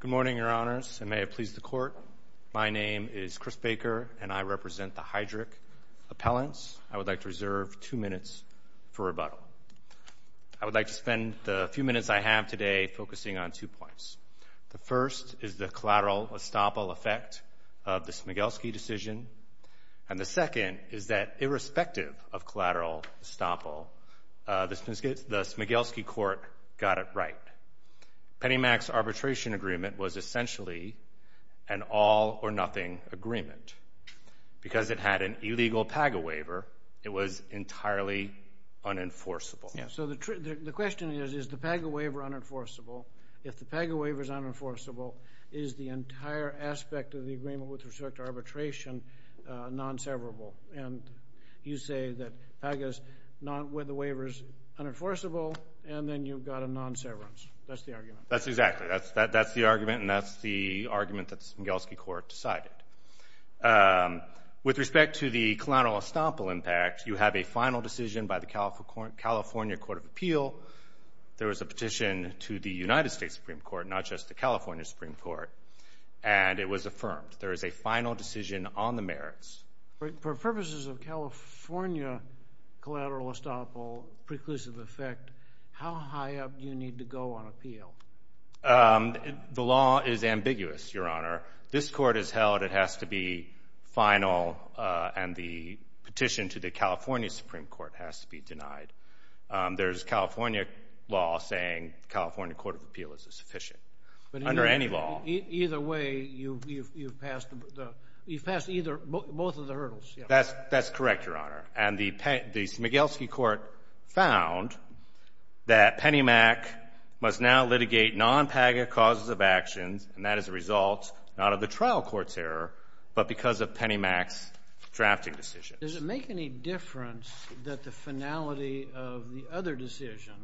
Good morning, Your Honors, and may it please the Court, my name is Chris Baker and I represent the Heidrich Appellants. I would like to reserve two minutes for rebuttal. I would like to spend the few minutes I have today focusing on two points. The first is the collateral estoppel effect of the Smigelski decision, and the second is that irrespective of collateral estoppel, the Smigelski court got it right. Pennymac's arbitration agreement was essentially an all-or-nothing agreement. Because it had an illegal PAGA waiver, it was entirely unenforceable. So the question is, is the PAGA waiver unenforceable? If the PAGA waiver is unenforceable, is the entire aspect of the agreement with respect to arbitration non-severable? And you say that PAGA's waiver is unenforceable, and then you've got a non-severance. That's the argument. That's exactly it. That's the argument, and that's the argument that the Smigelski court decided. With respect to the collateral estoppel impact, you have a final decision by the California Court of Appeal. There was a petition to the United States Supreme Court, not just the California Supreme Court, and it was affirmed. There is a final decision on the merits. For purposes of California collateral estoppel preclusive effect, how high up do you need to go on appeal? The law is ambiguous, Your Honor. This court has held it has to be final, and the petition to the California Supreme Court has to be denied. There's California law saying the California Court of Appeal is sufficient under any law. Either way, you've passed both of the hurdles. That's correct, Your Honor. And the Smigelski court found that PennyMac must now litigate non-PAGA causes of actions, and that is a result not of the trial court's error but because of PennyMac's drafting decision. Does it make any difference that the finality of the other decision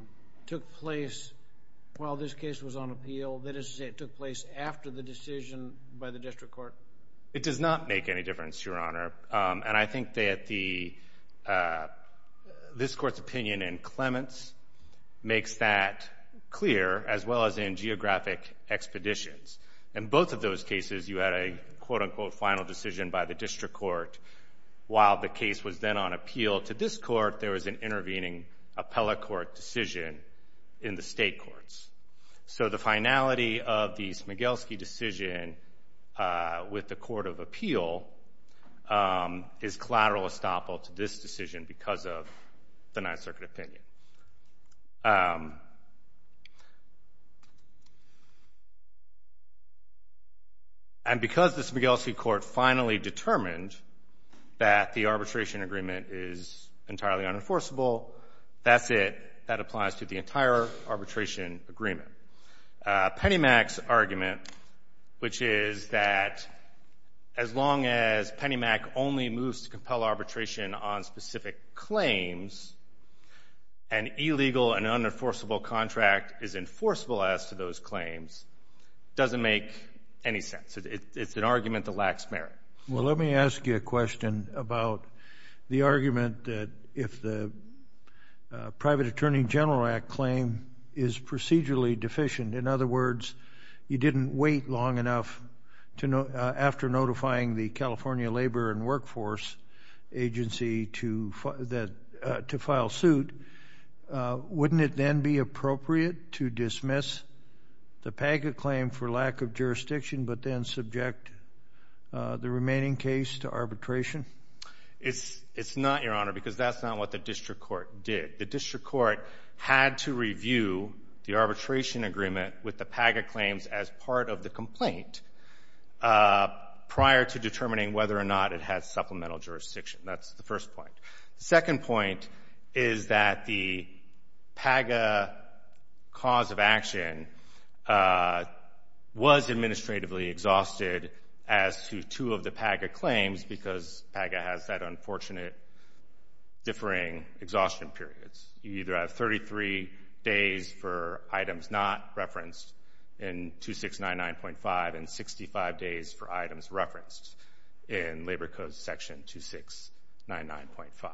took place while this case was on appeal? That is to say it took place after the decision by the district court? It does not make any difference, Your Honor. And I think that this court's opinion in Clements makes that clear as well as in geographic expeditions. In both of those cases, you had a quote-unquote final decision by the district court. While the case was then on appeal to this court, there was an intervening appellate court decision in the state courts. So the finality of the Smigelski decision with the court of appeal is collateral estoppel to this decision because of the Ninth Circuit opinion. And because the Smigelski court finally determined that the arbitration agreement is entirely unenforceable, that's it. That applies to the entire arbitration agreement. PennyMac's argument, which is that as long as PennyMac only moves to compel arbitration on specific claims, an illegal and unenforceable contract is enforceable as to those claims, doesn't make any sense. It's an argument that lacks merit. Well, let me ask you a question about the argument that if the Private Attorney General Act claim is procedurally deficient, in other words, you didn't wait long enough after notifying the California Labor and Workforce Agency to file suit, wouldn't it then be appropriate to dismiss the PAGA claim for lack of jurisdiction but then subject the remaining case to arbitration? It's not, Your Honor, because that's not what the district court did. The district court had to review the arbitration agreement with the PAGA claims as part of the complaint prior to determining whether or not it had supplemental jurisdiction. That's the first point. The second point is that the PAGA cause of action was administratively exhausted as to two of the PAGA claims because PAGA has that unfortunate differing exhaustion periods. You either have 33 days for items not referenced in 2699.5 and 65 days for items referenced in Labor Code section 2699.5.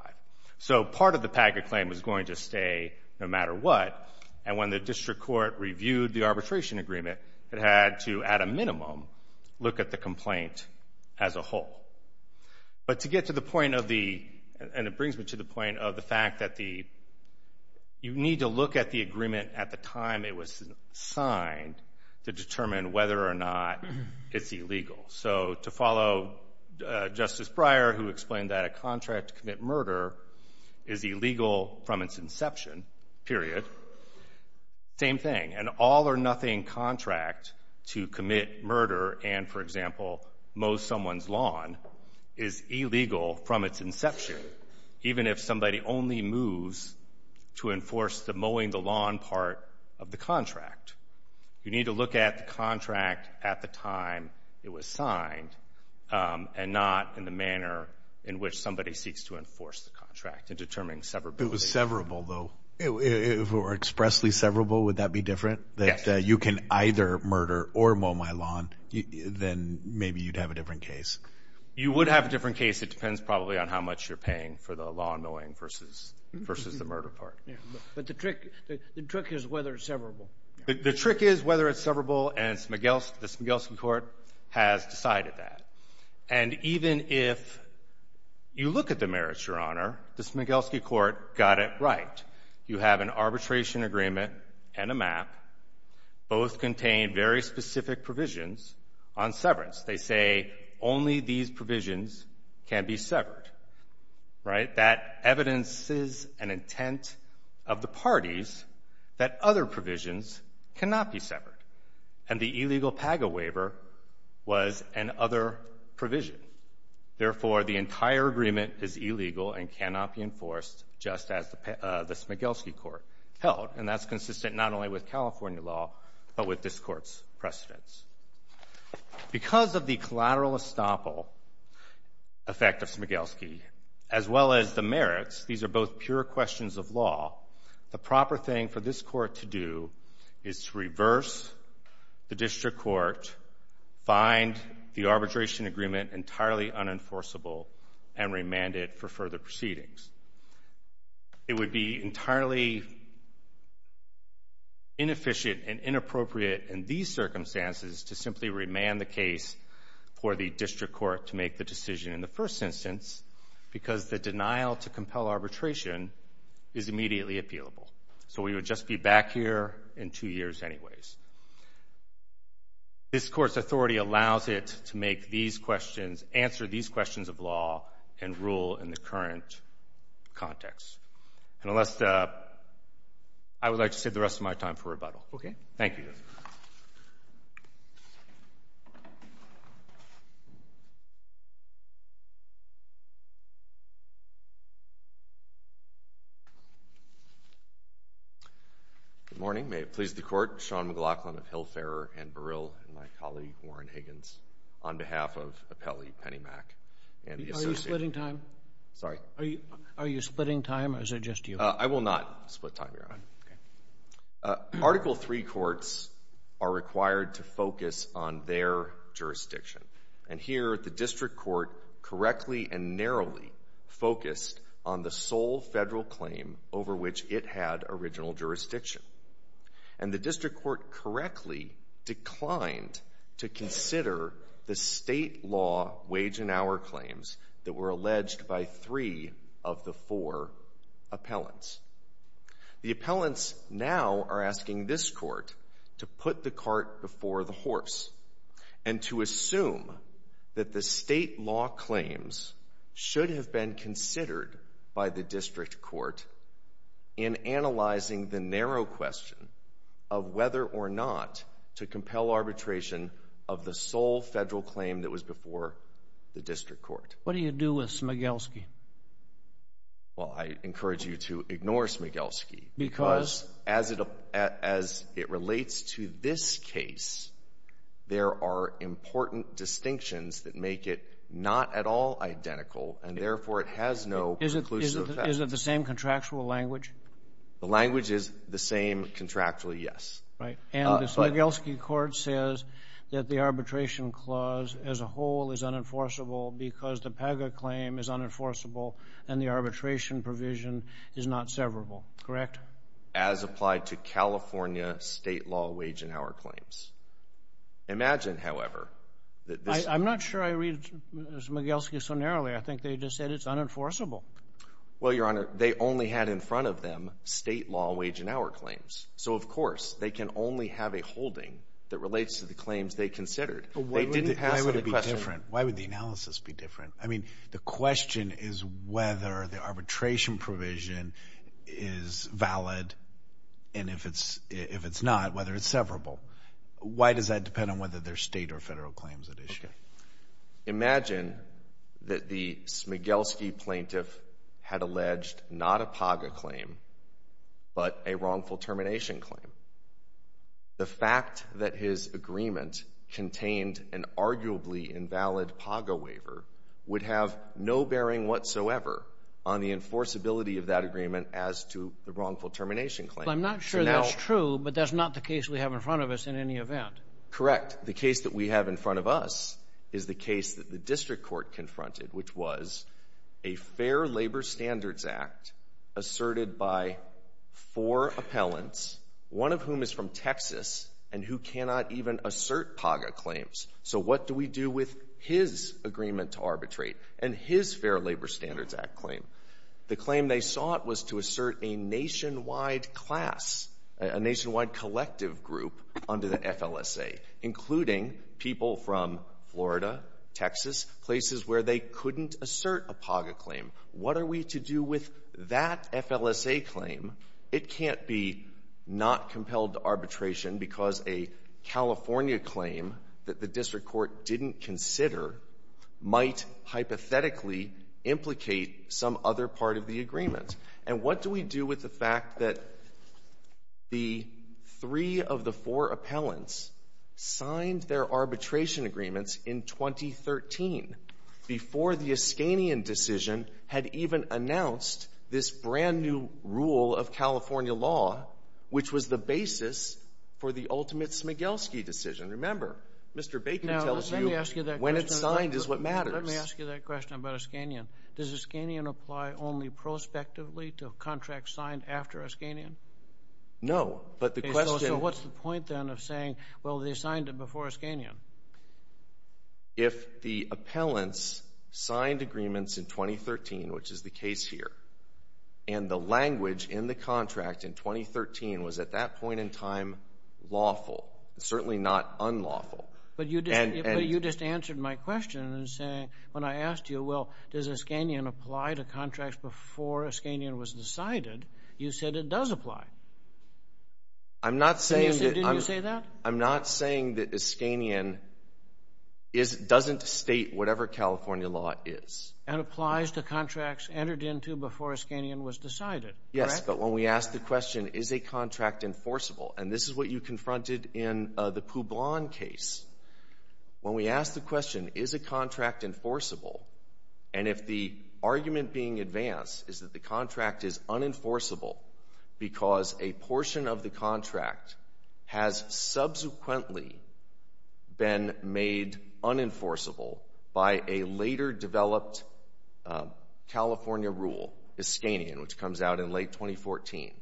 So part of the PAGA claim was going to stay no matter what, and when the district court reviewed the arbitration agreement, it had to, at a minimum, look at the complaint as a whole. But to get to the point of the, and it brings me to the point of the fact that the, you need to look at the agreement at the time it was signed to determine whether or not it's illegal. So to follow Justice Breyer, who explained that a contract to commit murder is illegal from its inception, period, same thing. An all-or-nothing contract to commit murder and, for example, mow someone's lawn is illegal from its inception, even if somebody only moves to enforce the mowing the lawn part of the contract. You need to look at the contract at the time it was signed and not in the manner in which somebody seeks to enforce the contract and determine severability. If it was severable, though, or expressly severable, would that be different? Yes. That you can either murder or mow my lawn, then maybe you'd have a different case. You would have a different case. It depends probably on how much you're paying for the lawn mowing versus the murder part. But the trick is whether it's severable. The trick is whether it's severable, and the Smigelski court has decided that. And even if you look at the merits, Your Honor, the Smigelski court got it right. You have an arbitration agreement and a map. Both contain very specific provisions on severance. They say only these provisions can be severed. Right? That evidences an intent of the parties that other provisions cannot be severed. And the illegal PAGA waiver was an other provision. Therefore, the entire agreement is illegal and cannot be enforced just as the Smigelski court held. And that's consistent not only with California law but with this Court's precedents. Because of the collateral estoppel effect of Smigelski, as well as the merits, these are both pure questions of law. The proper thing for this Court to do is to reverse the district court, find the arbitration agreement entirely unenforceable, and remand it for further proceedings. It would be entirely inefficient and inappropriate in these circumstances to simply remand the case for the district court to make the decision in the first instance because the denial to compel arbitration is immediately appealable. So we would just be back here in two years anyways. This Court's authority allows it to make these questions, answer these questions of law, and rule in the current context. And I would like to save the rest of my time for rebuttal. Okay. Thank you. Good morning. May it please the Court. Sean McLaughlin of Hillfarer and Burrill and my colleague, Warren Higgins, on behalf of Appellee Penny Mack. Are you splitting time? Sorry? Are you splitting time or is it just you? I will not split time, Your Honor. Okay. Article III courts are required to focus on their jurisdiction. And here the district court correctly and narrowly focused on the sole federal claim over which it had original jurisdiction. And the district court correctly declined to consider the state law wage and hour claims that were alleged by three of the four appellants. The appellants now are asking this court to put the cart before the horse and to assume that the state law claims should have been considered by the district court in analyzing the narrow question of whether or not to compel arbitration of the sole federal claim that was before the district court. What do you do with Smigelski? Well, I encourage you to ignore Smigelski. Because? As it relates to this case, there are important distinctions that make it not at all identical and therefore it has no conclusive effect. Is it the same contractual language? The language is the same contractually, yes. Right. And the Smigelski court says that the arbitration clause as a whole is unenforceable because the PAGA claim is unenforceable and the arbitration provision is not severable, correct? As applied to California state law wage and hour claims. Imagine, however, that this... I'm not sure I read Smigelski so narrowly. I think they just said it's unenforceable. Well, Your Honor, they only had in front of them state law wage and hour claims. So, of course, they can only have a holding that relates to the claims they considered. They didn't pass the question. Why would it be different? Why would the analysis be different? I mean, the question is whether the arbitration provision is valid. And if it's not, whether it's severable. Why does that depend on whether they're state or federal claims at issue? Imagine that the Smigelski plaintiff had alleged not a PAGA claim but a wrongful termination claim. The fact that his agreement contained an arguably invalid PAGA waiver would have no bearing whatsoever on the enforceability of that agreement as to the wrongful termination claim. I'm not sure that's true, but that's not the case we have in front of us in any event. Correct. The case that we have in front of us is the case that the district court confronted, which was a Fair Labor Standards Act asserted by four appellants, one of whom is from Texas and who cannot even assert PAGA claims. So what do we do with his agreement to arbitrate and his Fair Labor Standards Act claim? The claim they sought was to assert a nationwide class, a nationwide collective group under the FLSA, including people from Florida, Texas, places where they couldn't assert a PAGA claim. What are we to do with that FLSA claim? It can't be not compelled to arbitration because a California claim that the district court didn't consider might hypothetically implicate some other part of the agreement. And what do we do with the fact that the three of the four appellants signed their arbitration agreements in 2013, before the Eskanian decision had even announced this brand-new rule of California law, which was the basis for the ultimate Smigelski decision? Remember, Mr. Bacon tells you when it's signed is what matters. Let me ask you that question about Eskanian. Does Eskanian apply only prospectively to contracts signed after Eskanian? No, but the question So what's the point then of saying, well, they signed it before Eskanian? If the appellants signed agreements in 2013, which is the case here, and the language in the contract in 2013 was at that point in time lawful, certainly not unlawful, and But you just answered my question in saying, when I asked you, well, does Eskanian apply to contracts before Eskanian was decided, you said it does apply. I'm not saying that Did you say that? I'm not saying that Eskanian doesn't state whatever California law is. And applies to contracts entered into before Eskanian was decided, correct? Yes, but when we asked the question, is a contract enforceable, and this is what you When we asked the question, is a contract enforceable, and if the argument being advanced is that the contract is unenforceable because a portion of the contract has subsequently been made unenforceable by a later developed California rule, Eskanian, which comes out in late 2014,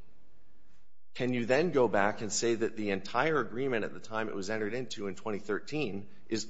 can you then go back and say that the entire agreement at the time it was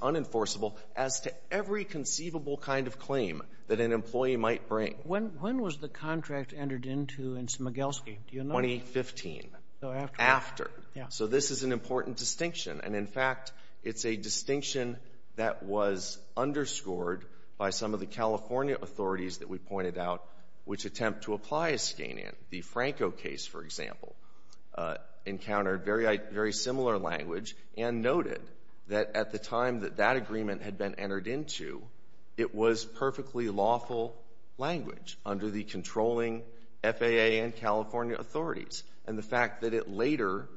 unenforceable as to every conceivable kind of claim that an employee might bring? When was the contract entered into in Smigelski? 2015. So after. After. So this is an important distinction. And, in fact, it's a distinction that was underscored by some of the California authorities that we pointed out which attempt to apply Eskanian. The Franco case, for example, encountered very similar language and noted that at the time that that agreement had been entered into, it was perfectly lawful language under the controlling FAA and California authorities. And the fact that it later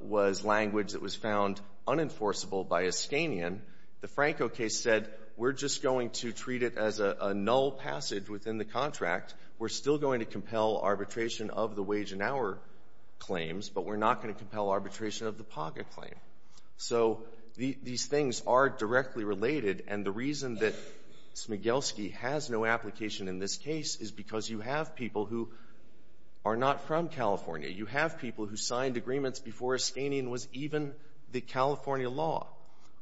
was language that was found unenforceable by Eskanian, the Franco case said, we're just going to treat it as a null passage within the contract. We're still going to compel arbitration of the wage and hour claims, but we're not going to compel arbitration of the POGA claim. So these things are directly related, and the reason that Smigelski has no application in this case is because you have people who are not from California. You have people who signed agreements before Eskanian was even the California law.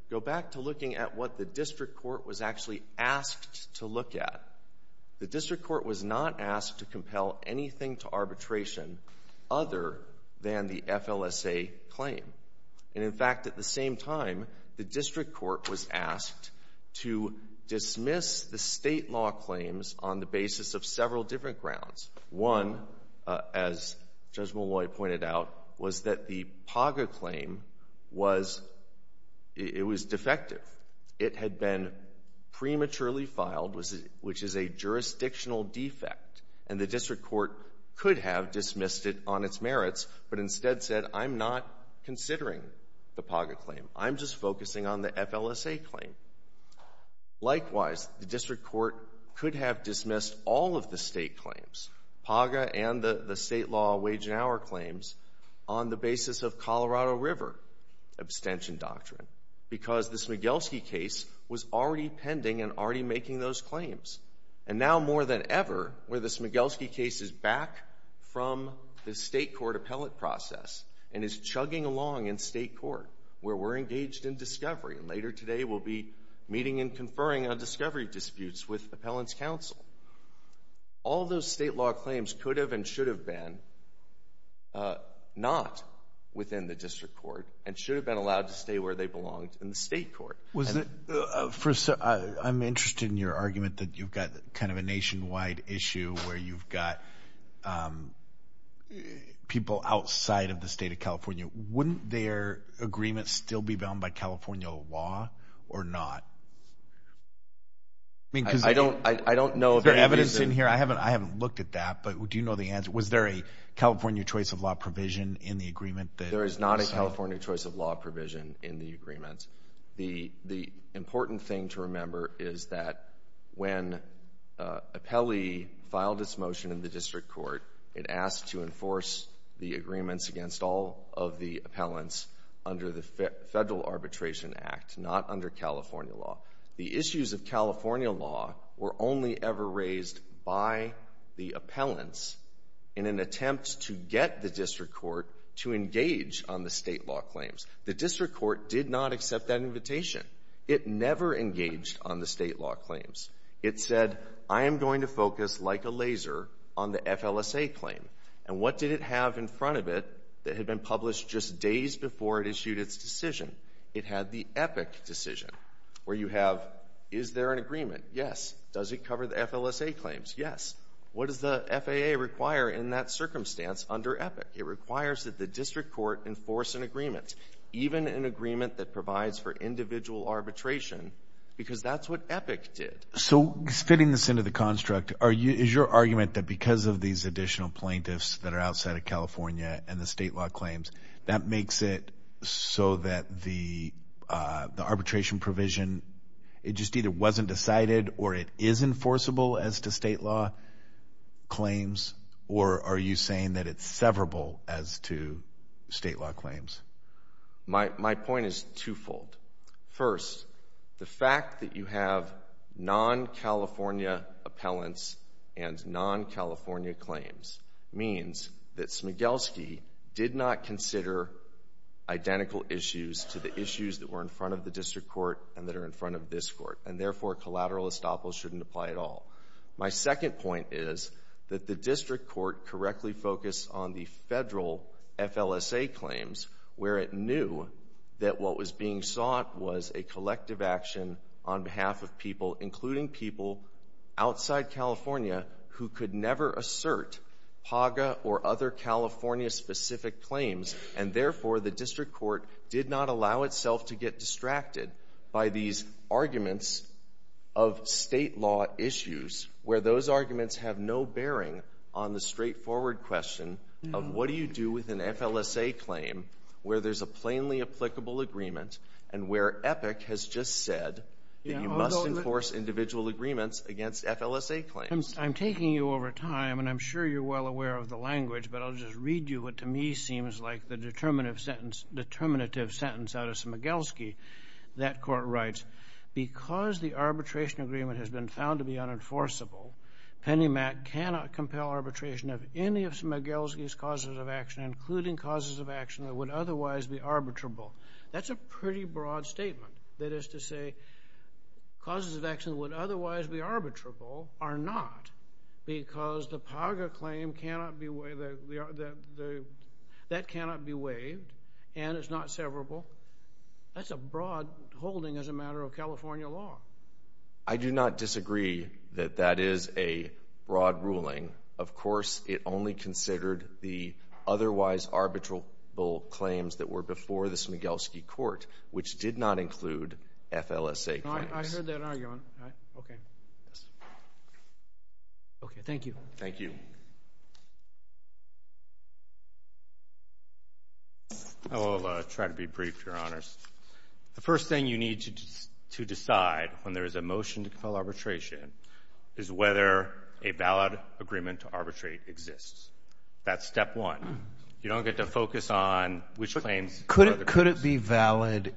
Go back to looking at what the district court was actually asked to look at. The district court was not asked to compel anything to arbitration other than the FLSA claim. And, in fact, at the same time, the district court was asked to dismiss the State law claims on the basis of several different grounds. One, as Judge Molloy pointed out, was that the POGA claim was — it was defective. It had been prematurely filed, which is a jurisdictional defect, and the district court could have dismissed it on its merits, but instead said, I'm not considering the POGA claim. I'm just focusing on the FLSA claim. Likewise, the district court could have dismissed all of the State claims, POGA and the State law wage and hour claims, on the basis of Colorado River abstention doctrine, because the Smigelski case was already pending and already making those claims. And now, more than ever, where the Smigelski case is back from the State court appellate process and is chugging along in State court, where we're engaged in discovery. Later today, we'll be meeting and conferring on discovery disputes with appellant's counsel. All those State law claims could have and should have been not within the district court and should have been allowed to stay where they belonged in the State court. I'm interested in your argument that you've got kind of a nationwide issue where you've got people outside of the State of California. Wouldn't their agreement still be bound by California law or not? I don't know. Is there evidence in here? I haven't looked at that, but do you know the answer? Was there a California choice of law provision in the agreement? There is not a California choice of law provision in the agreement. The important thing to remember is that when appellee filed its motion in the district court, it asked to enforce the agreements against all of the appellants under the Federal Arbitration Act, not under California law. The issues of California law were only ever raised by the appellants in an attempt to get the district court to engage on the State law claims. The district court did not accept that invitation. It never engaged on the State law claims. It said, I am going to focus like a laser on the FLSA claim. And what did it have in front of it that had been published just days before it issued its decision? It had the EPIC decision, where you have, is there an agreement? Yes. Does it cover the FLSA claims? Yes. What does the FAA require in that circumstance under EPIC? It requires that the district court enforce an agreement, even an agreement that provides for individual arbitration, because that's what EPIC did. So fitting this into the construct, is your argument that because of these additional plaintiffs that are outside of California and the State law claims, that makes it so that the arbitration provision, it just either wasn't decided or it is enforceable as to claims, or are you saying that it's severable as to State law claims? My point is twofold. First, the fact that you have non-California appellants and non-California claims means that Smigelski did not consider identical issues to the issues that were in front of the district court and that are in front of this court. And therefore, collateral estoppel shouldn't apply at all. My second point is that the district court correctly focused on the federal FLSA claims where it knew that what was being sought was a collective action on behalf of people, including people outside California who could never assert PAGA or other California-specific claims. And therefore, the district court did not allow itself to get distracted by these arguments of State law issues where those arguments have no bearing on the straightforward question of what do you do with an FLSA claim where there's a plainly applicable agreement and where EPIC has just said that you must enforce individual agreements against FLSA claims. I'm taking you over time, and I'm sure you're well aware of the language, but I'll just read you what to me seems like the determinative sentence out of Smigelski. That court writes, because the arbitration agreement has been found to be unenforceable, Penny Mac cannot compel arbitration of any of Smigelski's causes of action, including causes of action that would otherwise be arbitrable. That's a pretty broad statement. That is to say, causes of action that would otherwise be arbitrable are not because the PAGA claim cannot be waived, and it's not severable. That's a broad holding as a matter of California law. I do not disagree that that is a broad ruling. Of course, it only considered the otherwise arbitrable claims that were before the Smigelski court, which did not include FLSA claims. I heard that argument. All right. Okay. Yes. Okay. Thank you. Thank you. I will try to be brief, Your Honors. The first thing you need to decide when there is a motion to compel arbitration is whether a valid agreement to arbitrate exists. That's step one. You don't get to focus on which claims. Could it be valid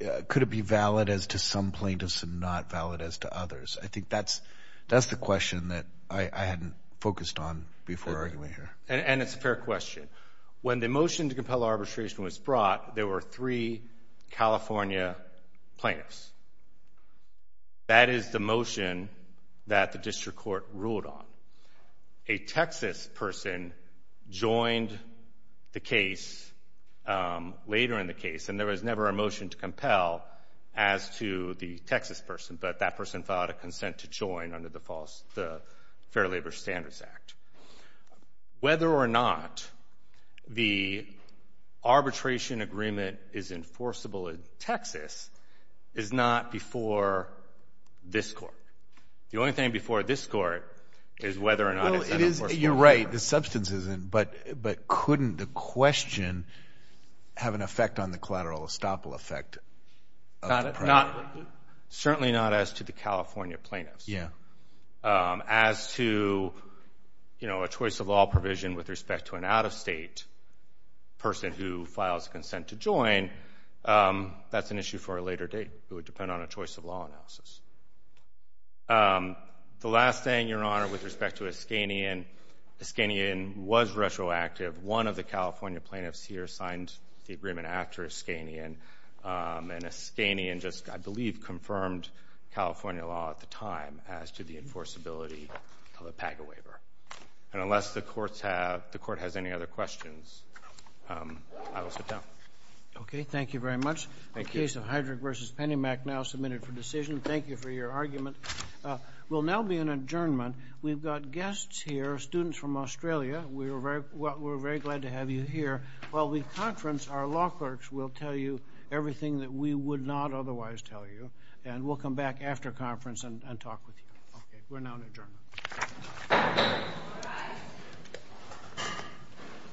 as to some plaintiffs and not valid as to others? I think that's the question that I hadn't focused on before arguing here. And it's a fair question. When the motion to compel arbitration was brought, there were three California plaintiffs. That is the motion that the district court ruled on. A Texas person joined the case later in the case, and there was never a motion to compel as to the Texas person, but that person filed a consent to join under the Fair Labor Standards Act. Whether or not the arbitration agreement is enforceable in Texas is not before this court. The only thing before this court is whether or not it's enforceable in Texas. You're right. The substance isn't, but couldn't the question have an effect on the collateral estoppel effect? Certainly not as to the California plaintiffs. As to a choice of law provision with respect to an out-of-state person who files a consent to join, that's an issue for a later date. It would depend on a choice of law analysis. The last thing, Your Honor, with respect to Iskanian, Iskanian was retroactive. One of the California plaintiffs here signed the agreement after Iskanian, and Iskanian just, I believe, confirmed California law at the time as to the enforceability of a PAGA waiver. And unless the court has any other questions, I will sit down. Okay. Thank you very much. The case of Heydrich v. Penny Mac now submitted for decision. Thank you for your argument. We'll now be in adjournment. We've got guests here, students from Australia. We're very glad to have you here. While we conference, our law clerks will tell you everything that we would not otherwise tell you, and we'll come back after conference and talk with you. Okay. We're now in adjournment.